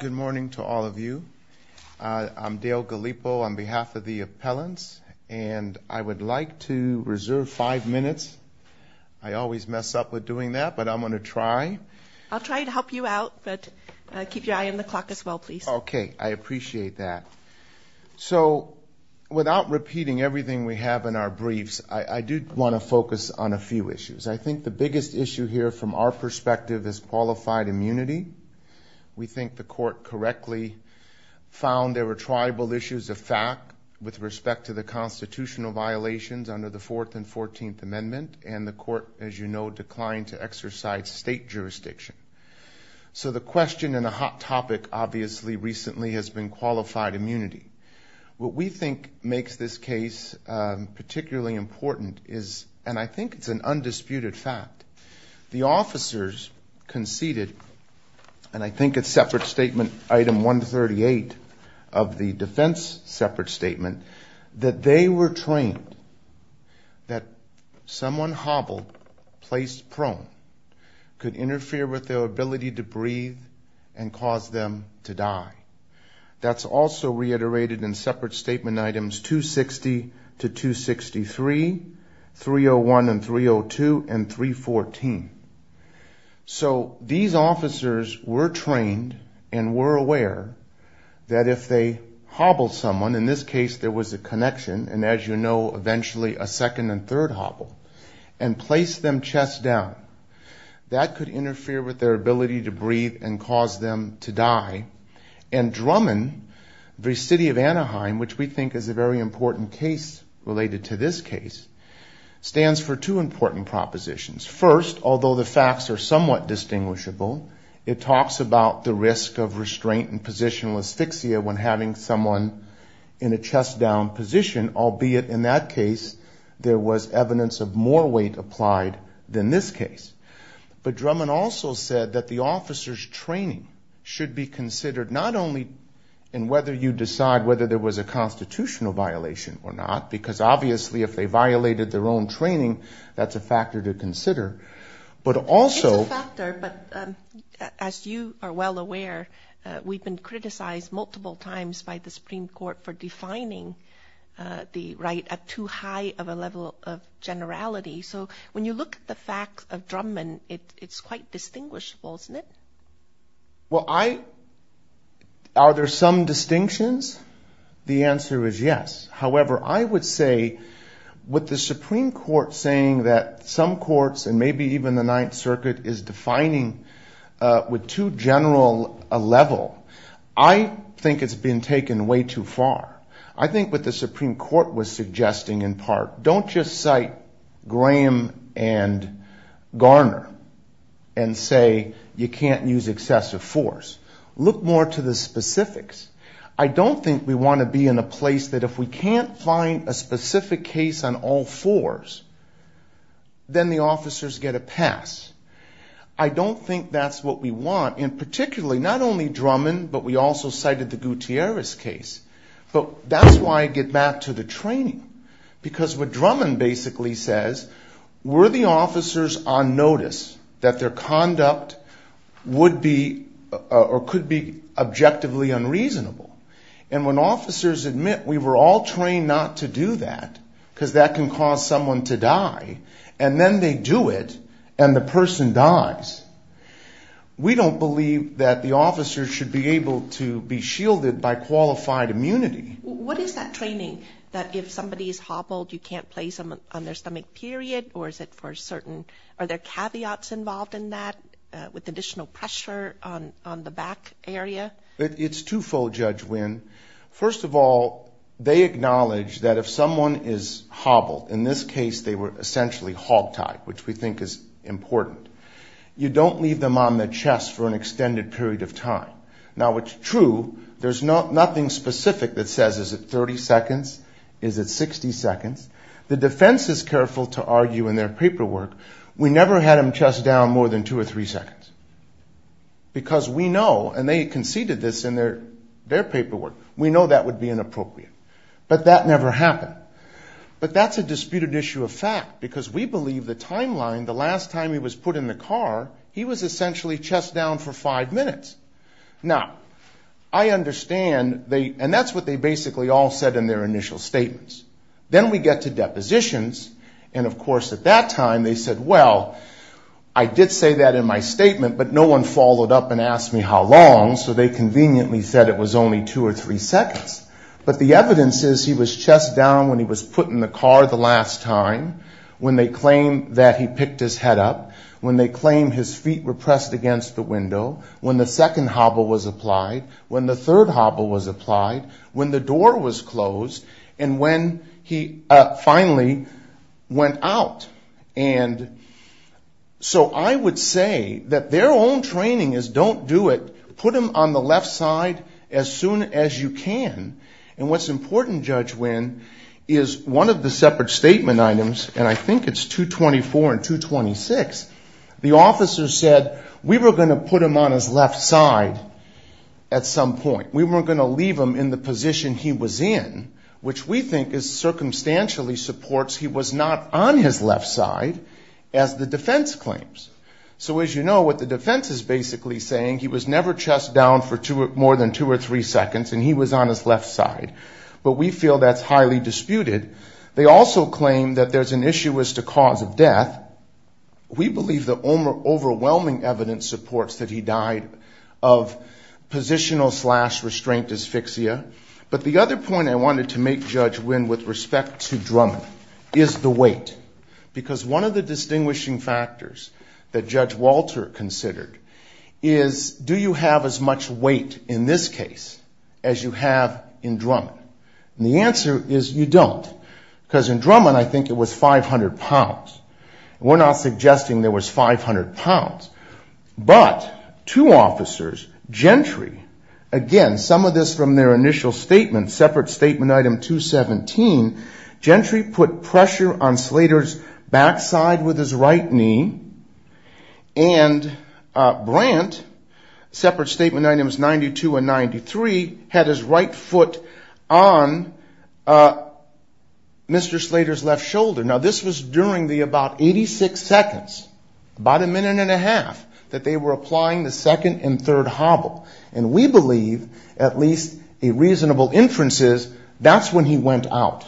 Good morning to all of you. I'm Dale Gallipo on behalf of the appellants, and I would like to reserve five minutes. I always mess up with doing that, but I'm going to try. I'll try to help you out, but keep your eye on the clock as well, please. Okay. I appreciate that. So without repeating everything we have in our briefs, I do want to focus on a few issues. I think the biggest issue here from our perspective is qualified immunity. We think the court correctly found there were tribal issues of fact with respect to the constitutional violations under the Fourth and Fourteenth Amendment, and the court, as you know, declined to exercise state jurisdiction. So the question and a hot topic, obviously, recently has been qualified immunity. What we think makes this case particularly important is, and I think it's an undisputed fact, the officers conceded, and I think it's separate statement item 138 of the defense separate statement, that they were trained that someone hobbled, placed prone, could interfere with their ability to breathe, and cause them to die. That's also reiterated in separate statement items 260 to 263, 301 and 302, and 314. So these officers were trained and were aware that if they hobbled someone, in this case there was a connection, and as you know, eventually a second and third hobble, and placed them chest down. That could interfere with their ability to breathe and cause them to die. And Drummond v. City of Anaheim, which we think is a very important case related to this case, stands for two important propositions. First, although the facts are somewhat distinguishable, it talks about the risk of restraint and positional asphyxia when having someone in a chest down position, albeit in that case there was evidence of more weight applied than this case. But Drummond also said that the officers' training should be considered not only in whether you decide whether there was a constitutional violation or not, because obviously if they violated their own training, that's a factor to consider, but also- It's a factor, but as you are well aware, we've been criticized multiple times by the right at too high of a level of generality. So when you look at the facts of Drummond, it's quite distinguishable, isn't it? Well, I- Are there some distinctions? The answer is yes. However, I would say with the Supreme Court saying that some courts, and maybe even the Ninth Circuit, is defining with too general a level, I think it's been taken way too far. I think what the Supreme Court was suggesting in part, don't just cite Graham and Garner and say you can't use excessive force. Look more to the specifics. I don't think we want to be in a place that if we can't find a specific case on all fours, then the officers get a pass. I don't think that's what we want, and particularly not only Drummond, but we also cited the Gutierrez case. But that's why I get back to the training, because what Drummond basically says, were the officers on notice that their conduct would be or could be objectively unreasonable? And when officers admit we were all trained not to do that, because that can cause someone to die, and then they do it, and the person dies, we don't believe that the officers should be able to be shielded by qualified immunity. What is that training, that if somebody is hobbled, you can't place them on their stomach, period? Or is it for certain, are there caveats involved in that, with additional pressure on the back area? It's two-fold, Judge Winn. First of all, they acknowledge that if someone is hobbled, in this case they were essentially hog-tied, which we think is important, you don't leave them on the chest for an extended period of time. Now it's true, there's nothing specific that says, is it 30 seconds, is it 60 seconds? The defense is careful to argue in their paperwork, we never had them chest down more than two or three seconds. Because we know, and they conceded this in their paperwork, we know that would be inappropriate. But that never happened. But that's a disputed issue of fact, because we believe the timeline, the last time he was put in the car, he was essentially chest down for five minutes. Now, I understand, and that's what they basically all said in their initial statements. Then we get to depositions, and of course at that time they said, well, I did say that in my statement, but no one followed up and asked me how long, so they conveniently said it was only two or three seconds. But the evidence is he was chest down when he was put in the car the last time, when they claim that he picked his head up, when they claim his feet were pressed against the window, when the second hobble was applied, when the third hobble was applied, when the door was closed, and when he finally went out. And so I would say that their own training is don't do it, put him on the left side as soon as you can. And what's important, Judge Wynn, is one of the separate statement items, and I think it's 224 and 226, the officer said we were going to put him on his left side at some point. We were going to leave him in the position he was in, which we think is circumstantially supports he was not on his left side as the defense claims. So as you know, what the defense is basically saying, he was never chest down for more than two or three seconds, and he was on his left side. But we feel that's highly disputed. They also claim that there's an issue as to cause of death. We believe the overwhelming evidence supports that he died of positional slash restraint asphyxia. But the other point I wanted to make, Judge Wynn, with respect to drum is the weight. Because one of the distinguishing factors that Judge Walter considered is do you have as much weight in this case as you have in Drummond? And the answer is you don't. Because in Drummond, I think it was 500 pounds. We're not suggesting there was 500 pounds. But two officers, Gentry, again, some of this from their initial statement, separate statement item 217, Gentry put pressure on Slater's backside with his right knee. And Brandt, separate statement items 92 and 93, had his right foot on Mr. Slater's left shoulder. Now, this was during the about 86 seconds, about a minute and a half, that they were applying the second and third hobble. And we believe, at least a reasonable inference is, that's when he went out.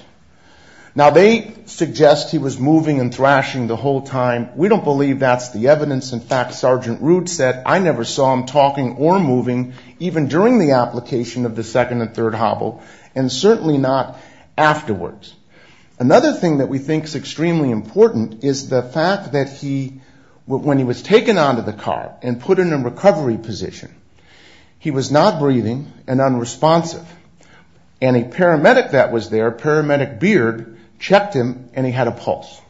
Now, they suggest he was moving and thrashing the whole time. We don't believe that's the evidence. In fact, Sergeant Rude said, I never saw him talking or moving even during the application of the second and third hobble, and certainly not afterwards. Another thing that we think is extremely important is the fact that he, when he was taken out of the car and put in a recovery position, he was not breathing and unresponsive. And a paramedic that was there, paramedic Beard, checked him and he had a pulse.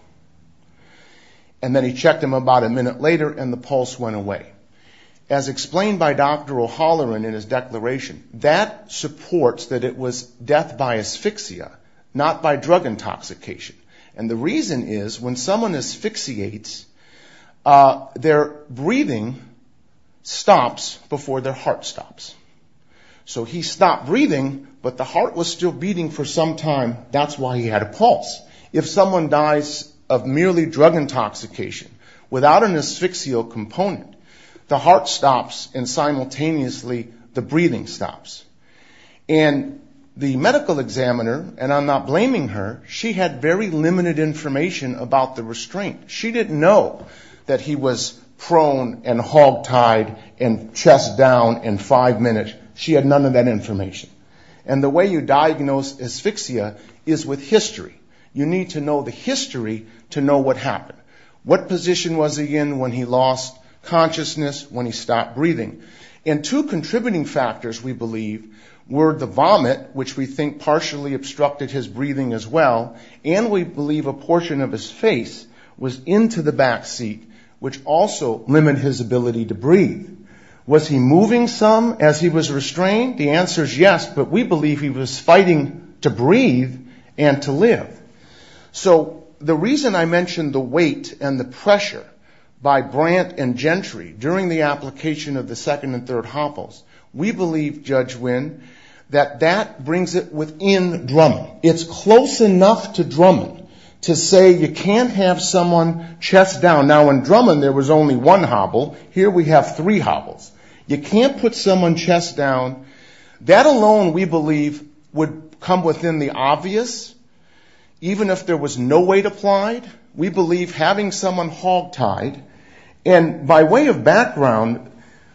And then he checked him about a minute later and the pulse went away. As explained by Dr. O'Halloran in his declaration, that supports that it was death by asphyxia, not by drug intoxication. And the reason is, when someone asphyxiates, their breathing stops before their heart stops. So he stopped breathing, but the heart was still beating for some time. That's why he had a pulse. If someone dies of merely drug intoxication, without an asphyxial component, the heart stops and simultaneously the breathing stops. And the medical examiner, and I'm not blaming her, she had very limited information about the that he was prone and hogtied and chest down in five minutes. She had none of that information. And the way you diagnose asphyxia is with history. You need to know the history to know what happened. What position was he in when he lost consciousness, when he stopped breathing? And two contributing factors, we believe, were the vomit, which we think partially obstructed his breathing as well. And we believe a portion of his face was into the back seat, which also limited his ability to breathe. Was he moving some as he was restrained? The answer is yes, but we believe he was fighting to breathe and to live. So the reason I mentioned the weight and the pressure by Brandt and Gentry during the application of the second and third hopples, we believe, Judge Wynn, that that brings it within Drummond. It's close enough to Drummond to say you can't have someone chest down. Now in Drummond there was only one hobble. Here we have three hobbles. You can't put someone chest down. That alone, we believe, would come within the obvious, even if there was no weight applied. We believe having someone hogtied, and by way of background,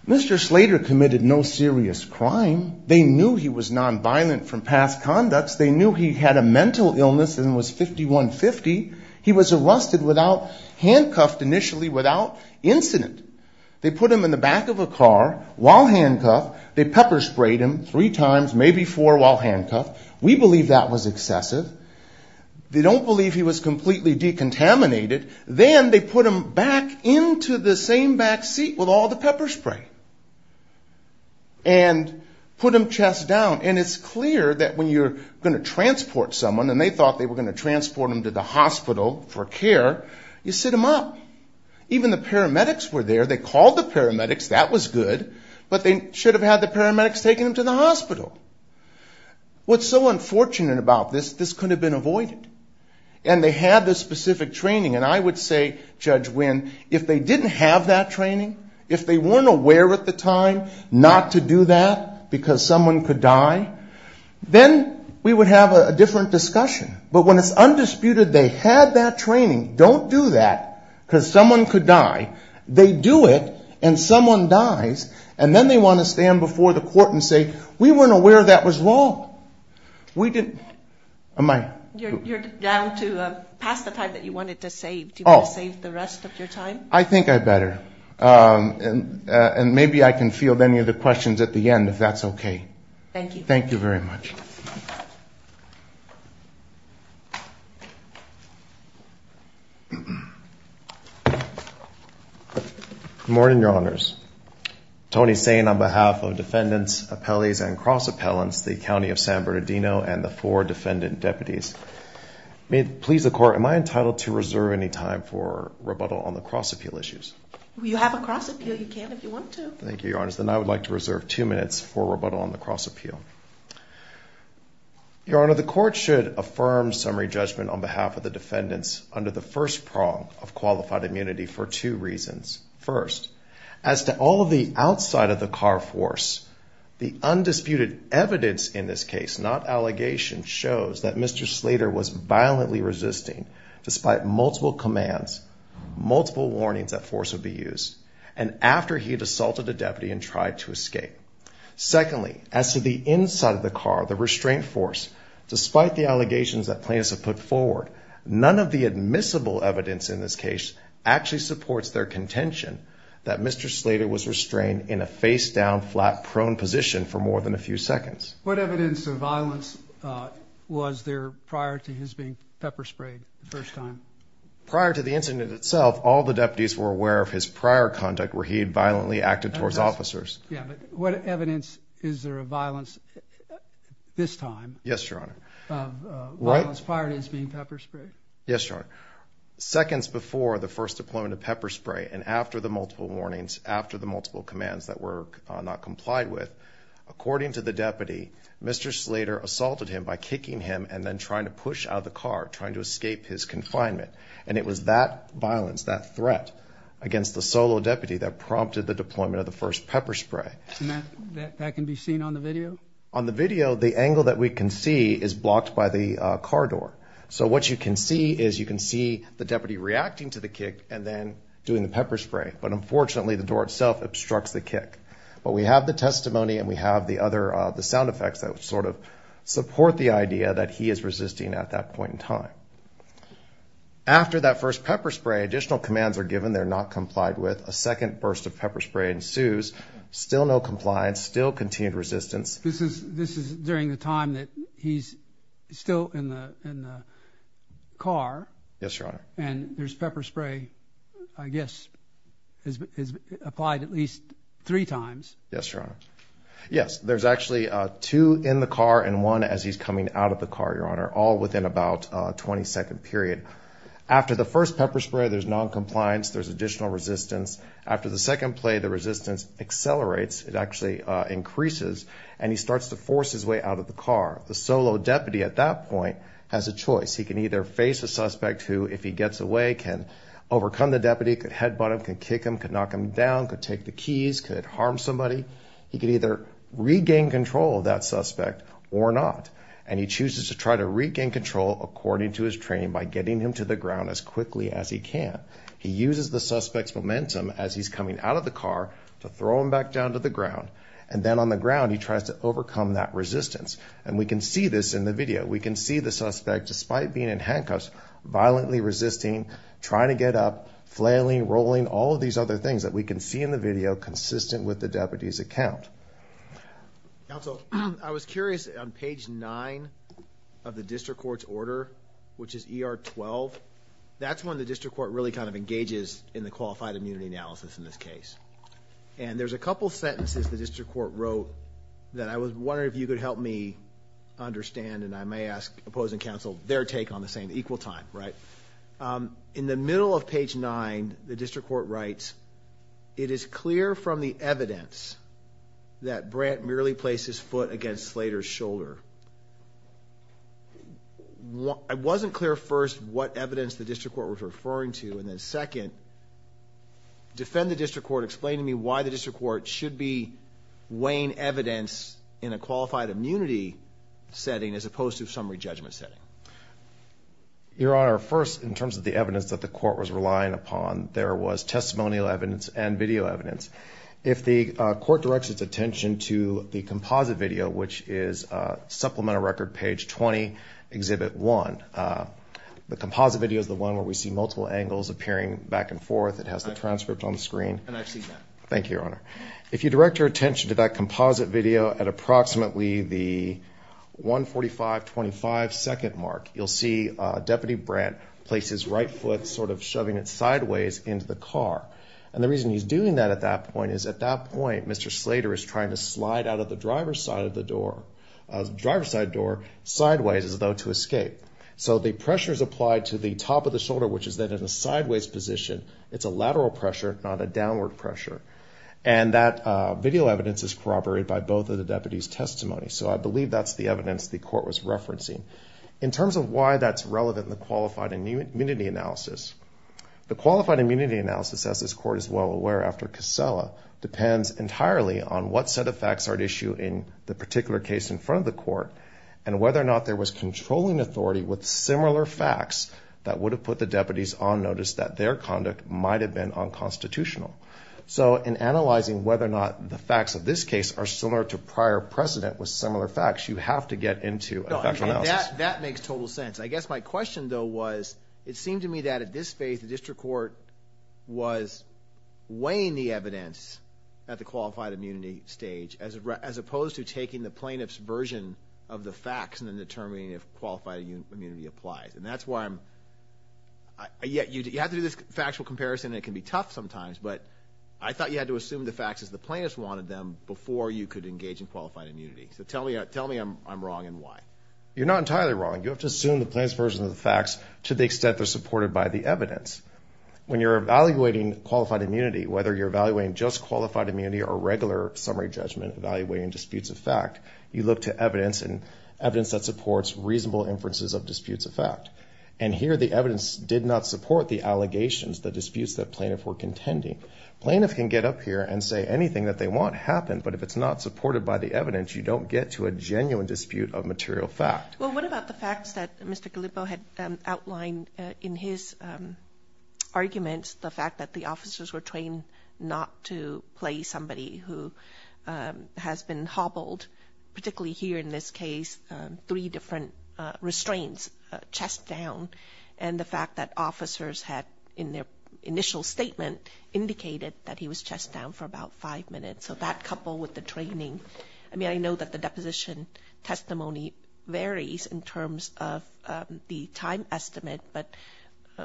Mr. Slater committed no serious crime. They knew he was nonviolent from past conducts. They knew he had a mental illness and was 51-50. He was arrested without, handcuffed initially, without incident. They put him in the back of a car while handcuffed. They pepper sprayed him three times, maybe four while handcuffed. We believe that was excessive. They don't believe he was completely decontaminated. Then they put him back into the back seat with all the pepper spray and put him chest down. It's clear that when you're going to transport someone, and they thought they were going to transport them to the hospital for care, you sit them up. Even the paramedics were there. They called the paramedics. That was good, but they should have had the paramedics take them to the hospital. What's so unfortunate about this, this could have been avoided. They had the specific training. I would say, Judge Wynn, if they didn't have that training, if they weren't aware at the time not to do that because someone could die, then we would have a different discussion. But when it's undisputed they had that training, don't do that because someone could die. They do it and someone dies, and then they want to stand before the court and say, we weren't aware that was wrong. We didn't, am I? You're down to pass the time that you wanted to save. Do you want to save the rest of your time? I think I better, and maybe I can field any of the questions at the end if that's okay. Thank you. Thank you very much. Good morning, your honors. Tony Sain on behalf of defendants, appellees, and cross appellants, the county of San Bernardino, and the four defendant deputies. May it please the court, am I entitled to reserve any time for rebuttal on the cross appeal issues? You have a cross appeal, you can if you want to. Thank you, your honors. Then I would like to reserve two minutes for rebuttal on the cross appeal. Your honor, the court should affirm summary judgment on behalf of the defendants under the first prong of qualified immunity for two reasons. First, as to all of the outside of the car force, the undisputed evidence in this case, not allegations, shows that Mr. Slater was violently resisting despite multiple commands, multiple warnings that force would be used, and after he had assaulted a deputy and tried to escape. Secondly, as to the inside of the car, the restraint force, despite the allegations that plaintiffs have put forward, none of the admissible evidence in this case actually supports their contention that Mr. Slater was restrained in a face down, flat, prone position for more than a few seconds. What evidence of violence was there prior to his being pepper sprayed the first time? Prior to the incident itself, all the deputies were aware of his prior conduct where he had violently acted towards officers. Yeah, but what evidence is there of violence this time? Yes, your honor. Of violence prior to his being pepper sprayed? Yes, your honor. Seconds before the first deployment of pepper spray and after the multiple warnings, after the multiple commands that were not complied with, according to the deputy, Mr. Slater assaulted him by kicking him and then trying to push out of the car, trying to escape his confinement. And it was that violence, that threat against the solo deputy that prompted the deployment of the first pepper spray. That can be seen on the video? On the video, the angle that we can see is blocked by the car door. So what you can see is you can see the deputy reacting to the kick and then doing the pepper spray, but unfortunately the door itself obstructs the kick. But we have the testimony and we have the other sound effects that sort of support the idea that he is resisting at that point in time. After that first pepper spray, additional commands are given they're not complied with, a second burst of pepper spray ensues, still no compliance, still continued resistance. This is during the time that he's still in the car? Yes, your honor. And there's pepper spray, I guess, is applied at least three times? Yes, your honor. Yes, there's actually two in the car and one as he's coming out of the car, your honor, all within about a 20 second period. After the first pepper spray, there's non-compliance, there's additional resistance. After the second play, the resistance accelerates. It actually increases and he starts to force his way out of the car. The solo deputy at that point has a choice. He can either face a suspect who, if he gets away, can overcome the deputy, could headbutt him, could kick him, could knock him down, could take the keys, could harm somebody. He could either regain control of that suspect or not. And he chooses to try to regain control according to his training by getting him to the ground as quickly as he can. He uses the suspect's momentum as he's coming out of the car to throw him back down to the ground. And then on the ground, he tries to overcome that resistance. And we can see this in the video. We can see the suspect, despite being in handcuffs, violently resisting, trying to get up, flailing, rolling, all of these other things that we can see in the video consistent with the deputy's account. Counsel, I was curious on page nine of the district court's order, which is ER 12. That's when the district court really kind of sentences the district court wrote that I was wondering if you could help me understand, and I may ask opposing counsel their take on the same, equal time, right? In the middle of page nine, the district court writes, it is clear from the evidence that Brant merely placed his foot against Slater's shoulder. It wasn't clear, first, what evidence the district court was referring to, and then second, defend the district court. Explain to me why the district court should be weighing evidence in a qualified immunity setting as opposed to a summary judgment setting. Your Honor, first, in terms of the evidence that the court was relying upon, there was testimonial evidence and video evidence. If the court directs its attention to the composite video, which is supplemental record, page 20, exhibit one. The composite video is the one where we see multiple angles appearing back and forth. It has the transcript on the screen. And I've seen that. Thank you, Your Honor. If you direct your attention to that composite video at approximately the 145, 25 second mark, you'll see Deputy Brant place his right foot sort of shoving it sideways into the car. And the reason he's doing that at that point is at that point, Mr. Slater is trying to slide out of the driver's side of the door, driver's side door, sideways as though to escape. So the pressure is applied to the top of the shoulder, which is then in a sideways position. It's a lateral pressure, not a downward pressure. And that video evidence is corroborated by both of the deputies' testimonies. So I believe that's the evidence the court was referencing. In terms of why that's relevant in the qualified immunity analysis, the qualified immunity analysis, as this court is well aware after Casella, depends entirely on what set of facts are at issue in the particular case in front of the court and whether or not there was controlling authority with similar facts that would have put the deputies on notice that their conduct might've been unconstitutional. So in analyzing whether or not the facts of this case are similar to prior precedent with similar facts, you have to get into a factual analysis. That makes total sense. I guess my question though was, it seemed to me that at this phase, the district court was weighing the evidence at the qualified immunity stage as opposed to taking the plaintiff's version of the facts and then determining if qualified immunity applies. And that's why I'm, yeah, you have to do this factual comparison and it can be tough sometimes, but I thought you had to assume the facts as the plaintiffs wanted them before you could engage in qualified immunity. So tell me, tell me I'm wrong and why. You're not entirely wrong. You have to assume the plaintiff's version of the facts to the extent they're supported by the evidence. When you're evaluating qualified immunity, whether you're evaluating just qualified immunity or regular summary judgment, evaluating disputes of fact, you look to evidence and evidence that supports reasonable inferences of disputes of fact. And here the evidence did not support the allegations, the disputes that plaintiff were contending. Plaintiff can get up here and say anything that they want happened, but if it's not supported by the evidence, you don't get to a genuine dispute of material fact. Well, what about the facts that Mr. Gallipo had outlined in his arguments, the fact that the officers were trained not to play somebody who has been hobbled, particularly here in this case, three different restraints, chest down. And the fact that officers had in their initial statement indicated that he was chest down for about five minutes. So that coupled with the training, I mean, I know that the deposition testimony varies in terms of the time estimate, but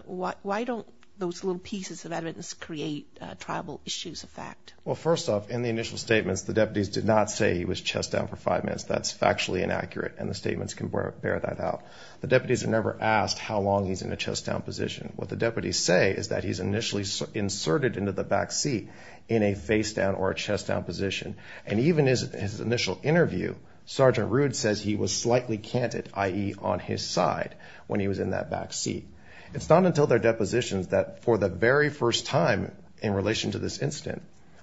why don't those little pieces of evidence create tribal issues of fact? Well, first off, in the initial statements, the deputies did not say he was chest down for five minutes. That's factually inaccurate and the statements can bear that out. The deputies are never asked how long he's in a chest down position. What the deputies say is that he's inserted into the back seat in a face down or a chest down position. And even his initial interview, Sergeant Rude says he was slightly canted, i.e. on his side when he was in that back seat. It's not until their depositions that for the very first time in relation to this incident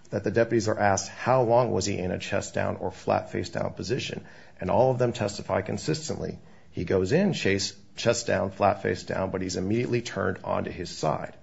that the deputies are asked, how long was he in a chest down or flat face down position? And all of them testify consistently. He goes in chest down, flat face down, but he's immediately turned onto his side.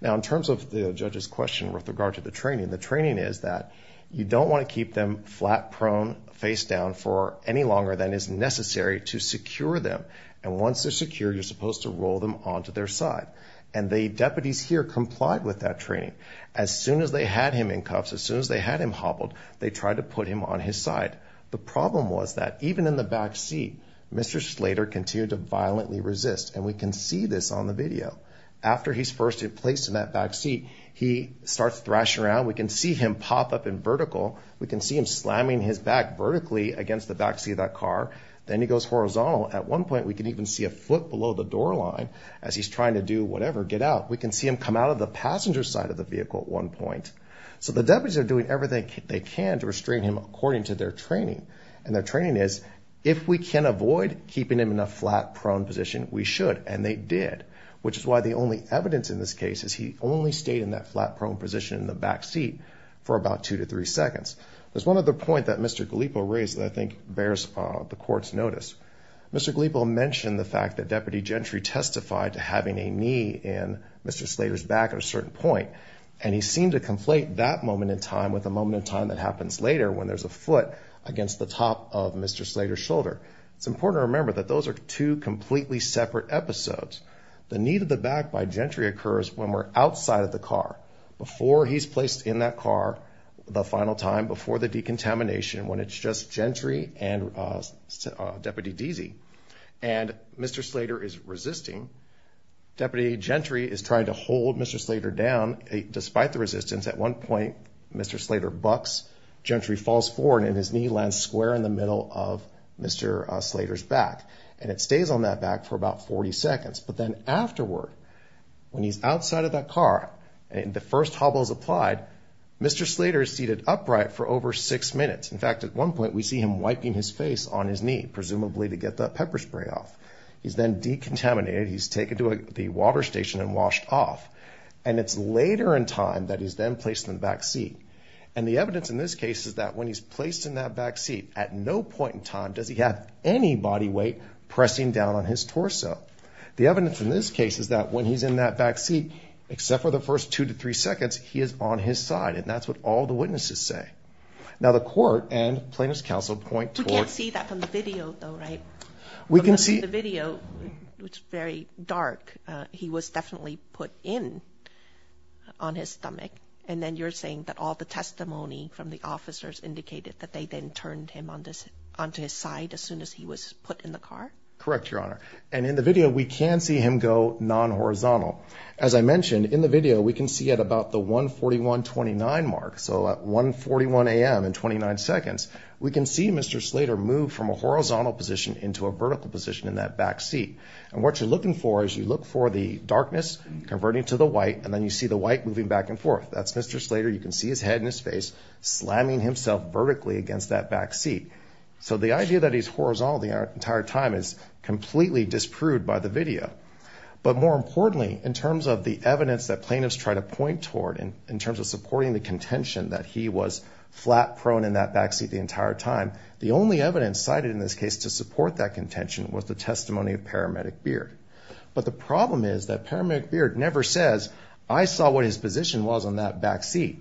Now, in terms of the judge's question with regard to the training, the training is that you don't want to keep them flat prone face down for any longer than is necessary to secure them. And once they're secure, you're supposed to roll them onto their side. And the deputies here complied with that training. As soon as they had him in cuffs, as soon as they had him hobbled, they tried to put him on his side. The problem was that even in the back seat, Mr. Slater continued to violently resist. And we can see this on the video. After he's first placed in that back seat, he starts thrashing around. We can see him pop up in vertical. We can see him slamming his back vertically against the back seat of that car. Then he goes horizontal. At one point, we can even see a foot below the door line as he's trying to do whatever, get out. We can see him come out of the passenger side of the vehicle at one point. So the deputies are doing everything they can to restrain him according to their training. And their training is if we can avoid keeping him in a flat prone position, we should. And they did, which is why the only evidence in this case is he only stayed in that flat prone position in the back seat for about two to three seconds. There's one other point that Mr. Galipo raised that I think bears the court's notice. Mr. Galipo mentioned the fact that Deputy Gentry testified to having a knee in Mr. Slater's back at a certain point. And he seemed to conflate that moment in time that happens later when there's a foot against the top of Mr. Slater's shoulder. It's important to remember that those are two completely separate episodes. The knee to the back by Gentry occurs when we're outside of the car before he's placed in that car the final time before the decontamination when it's just Gentry and Deputy Deasy. And Mr. Slater is resisting. Deputy Gentry is trying to hold Mr. Slater down despite the bucks. Gentry falls forward and his knee lands square in the middle of Mr. Slater's back. And it stays on that back for about 40 seconds. But then afterward, when he's outside of that car and the first hobble is applied, Mr. Slater is seated upright for over six minutes. In fact, at one point we see him wiping his face on his knee, presumably to get that pepper spray off. He's then decontaminated. He's taken to the water station and washed off. And it's later in time that he's then placed in the back seat. And the evidence in this case is that when he's placed in that back seat, at no point in time does he have any body weight pressing down on his torso. The evidence in this case is that when he's in that back seat, except for the first two to three seconds, he is on his side. And that's what all the witnesses say. Now the court and plaintiff's counsel point towards- We can't see that from the video though, right? We can see- From the video, it's very dark. He was definitely put in on his stomach. And then you're saying that all the testimony from the officers indicated that they then turned him onto his side as soon as he was put in the car? Correct, Your Honor. And in the video, we can see him go non-horizontal. As I mentioned, in the video, we can see at about the 141.29 mark. So at 141 a.m. in 29 seconds, we can see Mr. Slater move from a horizontal position into a vertical position in that back seat. And what you're looking for is you look for the darkness converting to the white, and then you see the white moving back and forth. That's Mr. Slater. You can see his head and his face slamming himself vertically against that back seat. So the idea that he's horizontal the entire time is completely disproved by the video. But more importantly, in terms of the evidence that plaintiffs try to point toward, in terms of supporting the contention that he was flat prone in that back seat the entire time, the only evidence cited in this case to support that contention was the testimony of Paramedic Beard. But the problem is that Paramedic Beard never says, I saw what his position was on that back seat.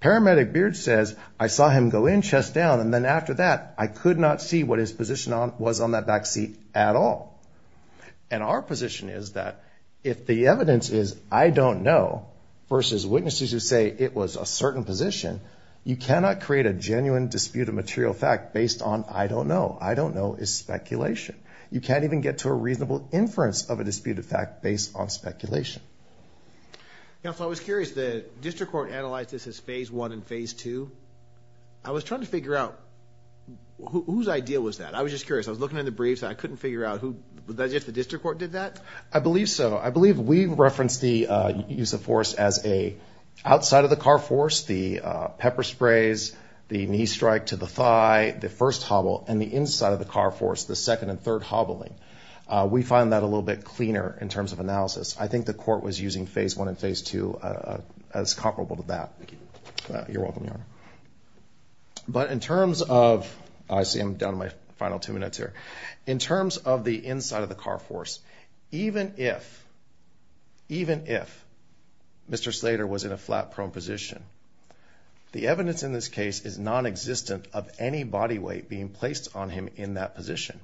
Paramedic Beard says, I saw him go in chest down. And then after that, I could not see what his position was on that back seat at all. And our position is that if the evidence is, I don't know, versus witnesses who say it was a certain position, you cannot create a genuine dispute of material fact based on I don't know. I don't know is speculation. You can't even get to a reasonable inference of a disputed fact based on speculation. Yeah. So I was curious, the district court analyzed this as phase one and phase two. I was trying to figure out whose idea was that? I was just curious. I was looking at the briefs and I couldn't figure out who, if the district court did that? I believe so. I believe we referenced the use of force as a outside of the car force, the pepper sprays, the knee strike to the thigh, the first hobble, and the inside of the car force, the second and third hobbling. We find that a little bit cleaner in terms of analysis. I think the court was using phase one and phase two as comparable to that. Thank you. You're welcome, Your Honor. But in terms of, I see I'm down to my final two minutes here. In terms of the inside of the car force, even if, even if Mr. Slater was in a flat prone position, the evidence in this case is non-existent of any body weight being placed on him in that position.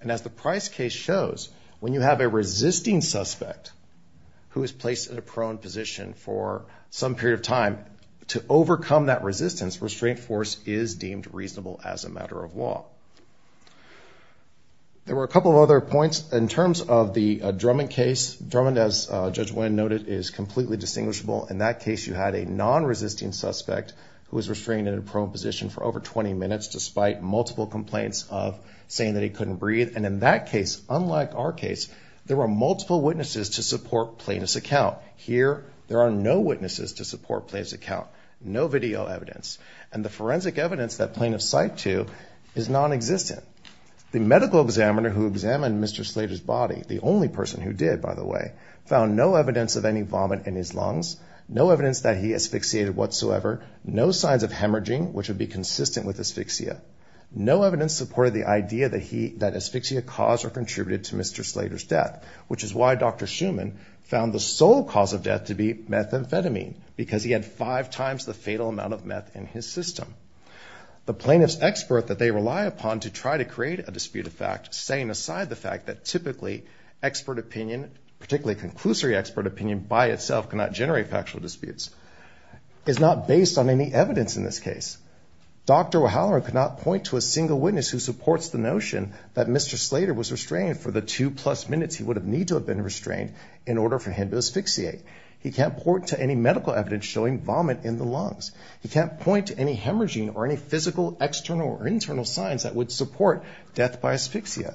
And as the Price case shows, when you have a resisting suspect who is placed in a prone position for some period of time, to overcome that resistance, restraint force is deemed reasonable as a matter of law. There were a couple of other points in terms of the Drummond case. Drummond, as Judge Wynn noted, is completely distinguishable. In that case, you had a non-resisting suspect who was restrained in a prone position for over 20 minutes, despite multiple complaints of saying that he couldn't breathe. And in that case, unlike our case, there were multiple witnesses to support plaintiff's account. Here, there are no witnesses to support plaintiff's account, no video evidence. And the forensic evidence that plaintiffs cite to is non-existent. The medical examiner who examined Mr. Slater's body, the only person who did, by the way, found no evidence of any vomit in his lungs, no evidence that he asphyxiated whatsoever, no signs of hemorrhaging, which would be consistent with asphyxia. No evidence supported the idea that he, that asphyxia caused or contributed to Mr. Slater's death, which is why Dr. Shuman found the sole cause of death to be methamphetamine, because he had five times the fatal amount of meth in his system. The plaintiff's expert that they rely upon to try to create a dispute of fact, setting aside the fact that typically expert opinion, particularly conclusory expert opinion, by itself cannot generate factual disputes, is not based on any evidence in this case. Dr. O'Halloran could not point to a single witness who supports the notion that Mr. Slater was restrained for the two plus minutes he would have need to have been restrained in order for him to asphyxiate. He can't point to any medical evidence showing vomit in the lungs. He can't point to any hemorrhaging or any physical external or internal signs that would support death by asphyxia.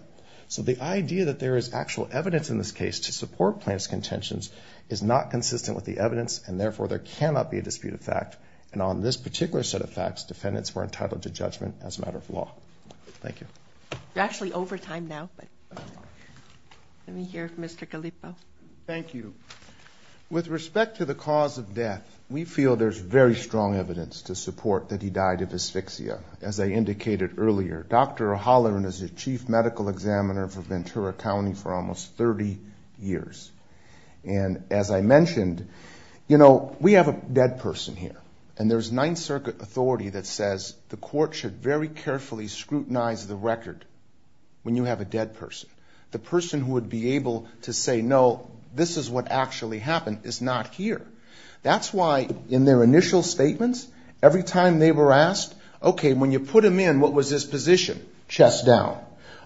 So the idea that there is actual evidence in this case to support plaintiff's contentions is not consistent with the evidence, and therefore there cannot be a dispute of fact. And on this particular set of facts, defendants were entitled to judgment as a matter of law. Thank you. You're actually over time now, but let me hear from Mr. Calippo. Thank you. With respect to the cause of death, we feel there's very strong evidence to support that he died of asphyxia. As I indicated earlier, Dr. O'Halloran is the chief medical examiner for Ventura County for almost 30 years. And as I mentioned, you know, we have a dead person here, and there's Ninth Circuit authority that says the court should very The person who would be able to say, no, this is what actually happened is not here. That's why in their initial statements, every time they were asked, okay, when you put him in, what was his position? Chest down.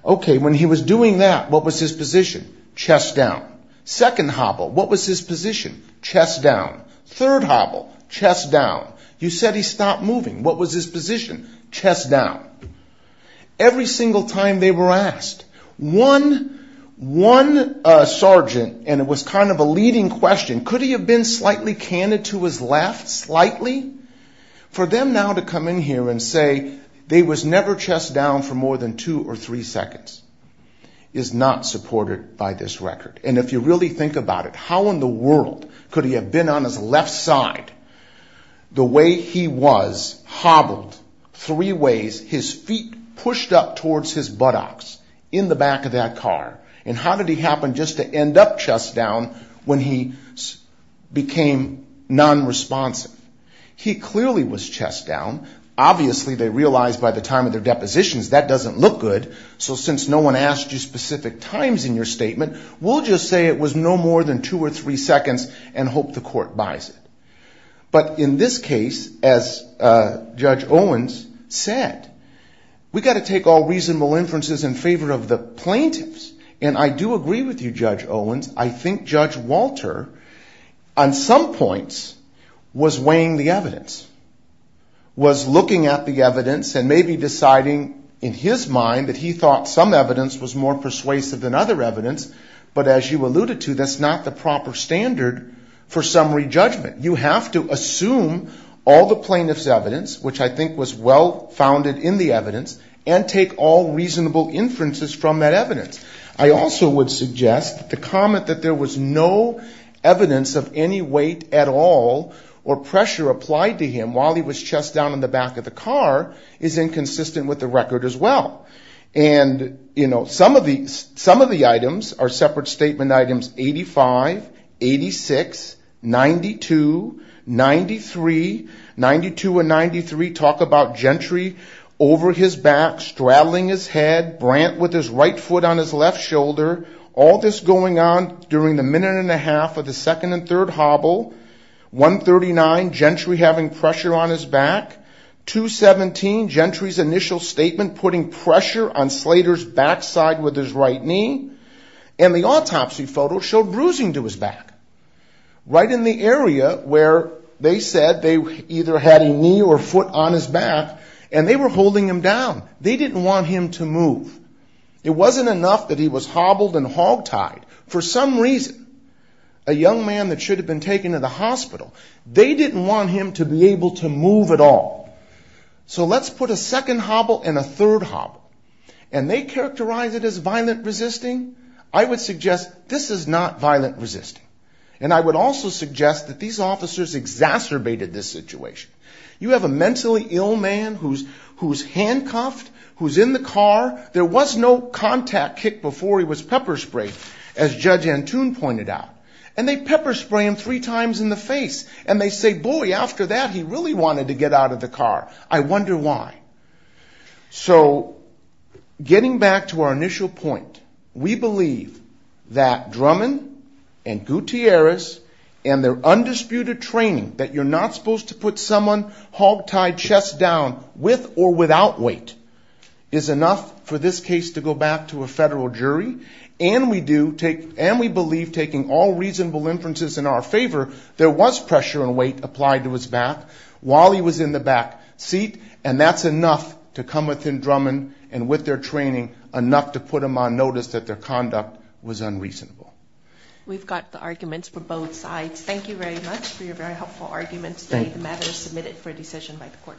Okay, when he was doing that, what was his position? Chest down. Second hobble, what was his position? Chest down. Third hobble, chest down. You said he stopped moving. What was his position? Chest down. Every single time they were asked, one sergeant, and it was kind of a leading question, could he have been slightly candid to his left, slightly? For them now to come in here and say they was never chest down for more than two or three seconds is not supported by this record. And if you really think about it, how in the world could he have been on his left side? The way he was hobbled three ways, his feet pushed up towards his buttocks in the back of that car. And how did he happen just to end up chest down when he became nonresponsive? He clearly was chest down. Obviously, they realized by the time of their depositions, that doesn't look good. So since no one asked you specific times in your statement, we'll just say it was no more than two or three seconds and hope the court buys it. But in this case, as Judge Owens said, we got to take all reasonable inferences in favor of the plaintiffs. And I do agree with you, Judge Owens. I think Judge Walter, on some points, was weighing the evidence, was looking at the evidence and maybe deciding in his mind that he was more persuasive than other evidence. But as you alluded to, that's not the proper standard for summary judgment. You have to assume all the plaintiff's evidence, which I think was well founded in the evidence, and take all reasonable inferences from that evidence. I also would suggest the comment that there was no evidence of any weight at all or pressure applied to him while he was chest down in the back of the car is inconsistent with the record as well. And some of the items are separate statement items 85, 86, 92, 93. 92 and 93 talk about Gentry over his back, straddling his head, Brant with his right foot on his left shoulder, all this going on during the minute and a half of the second and third hobble. 139, Gentry having pressure on his back. 217, Gentry's initial statement putting pressure on Slater's backside with his right knee. And the autopsy photo showed bruising to his back, right in the area where they said they either had a knee or foot on his back, and they were holding him down. They didn't want him to move. It wasn't enough that he was hospital. They didn't want him to be able to move at all. So let's put a second hobble and a third hobble. And they characterize it as violent resisting. I would suggest this is not violent resisting. And I would also suggest that these officers exacerbated this situation. You have a mentally ill man who's handcuffed, who's in the car. There was no contact kick before he was pointed out. And they pepper spray him three times in the face. And they say, boy, after that, he really wanted to get out of the car. I wonder why. So getting back to our initial point, we believe that Drummond and Gutierrez and their undisputed training that you're not supposed to put someone hogtied chest down with or without weight is enough for this case to go back to a reasonable conclusion. We believe taking all reasonable inferences in our favor, there was pressure and weight applied to his back while he was in the back seat. And that's enough to come within Drummond and with their training, enough to put them on notice that their conduct was unreasonable. We've got the arguments for both sides. Thank you very much for your very helpful arguments. The matter is submitted for a decision by the court.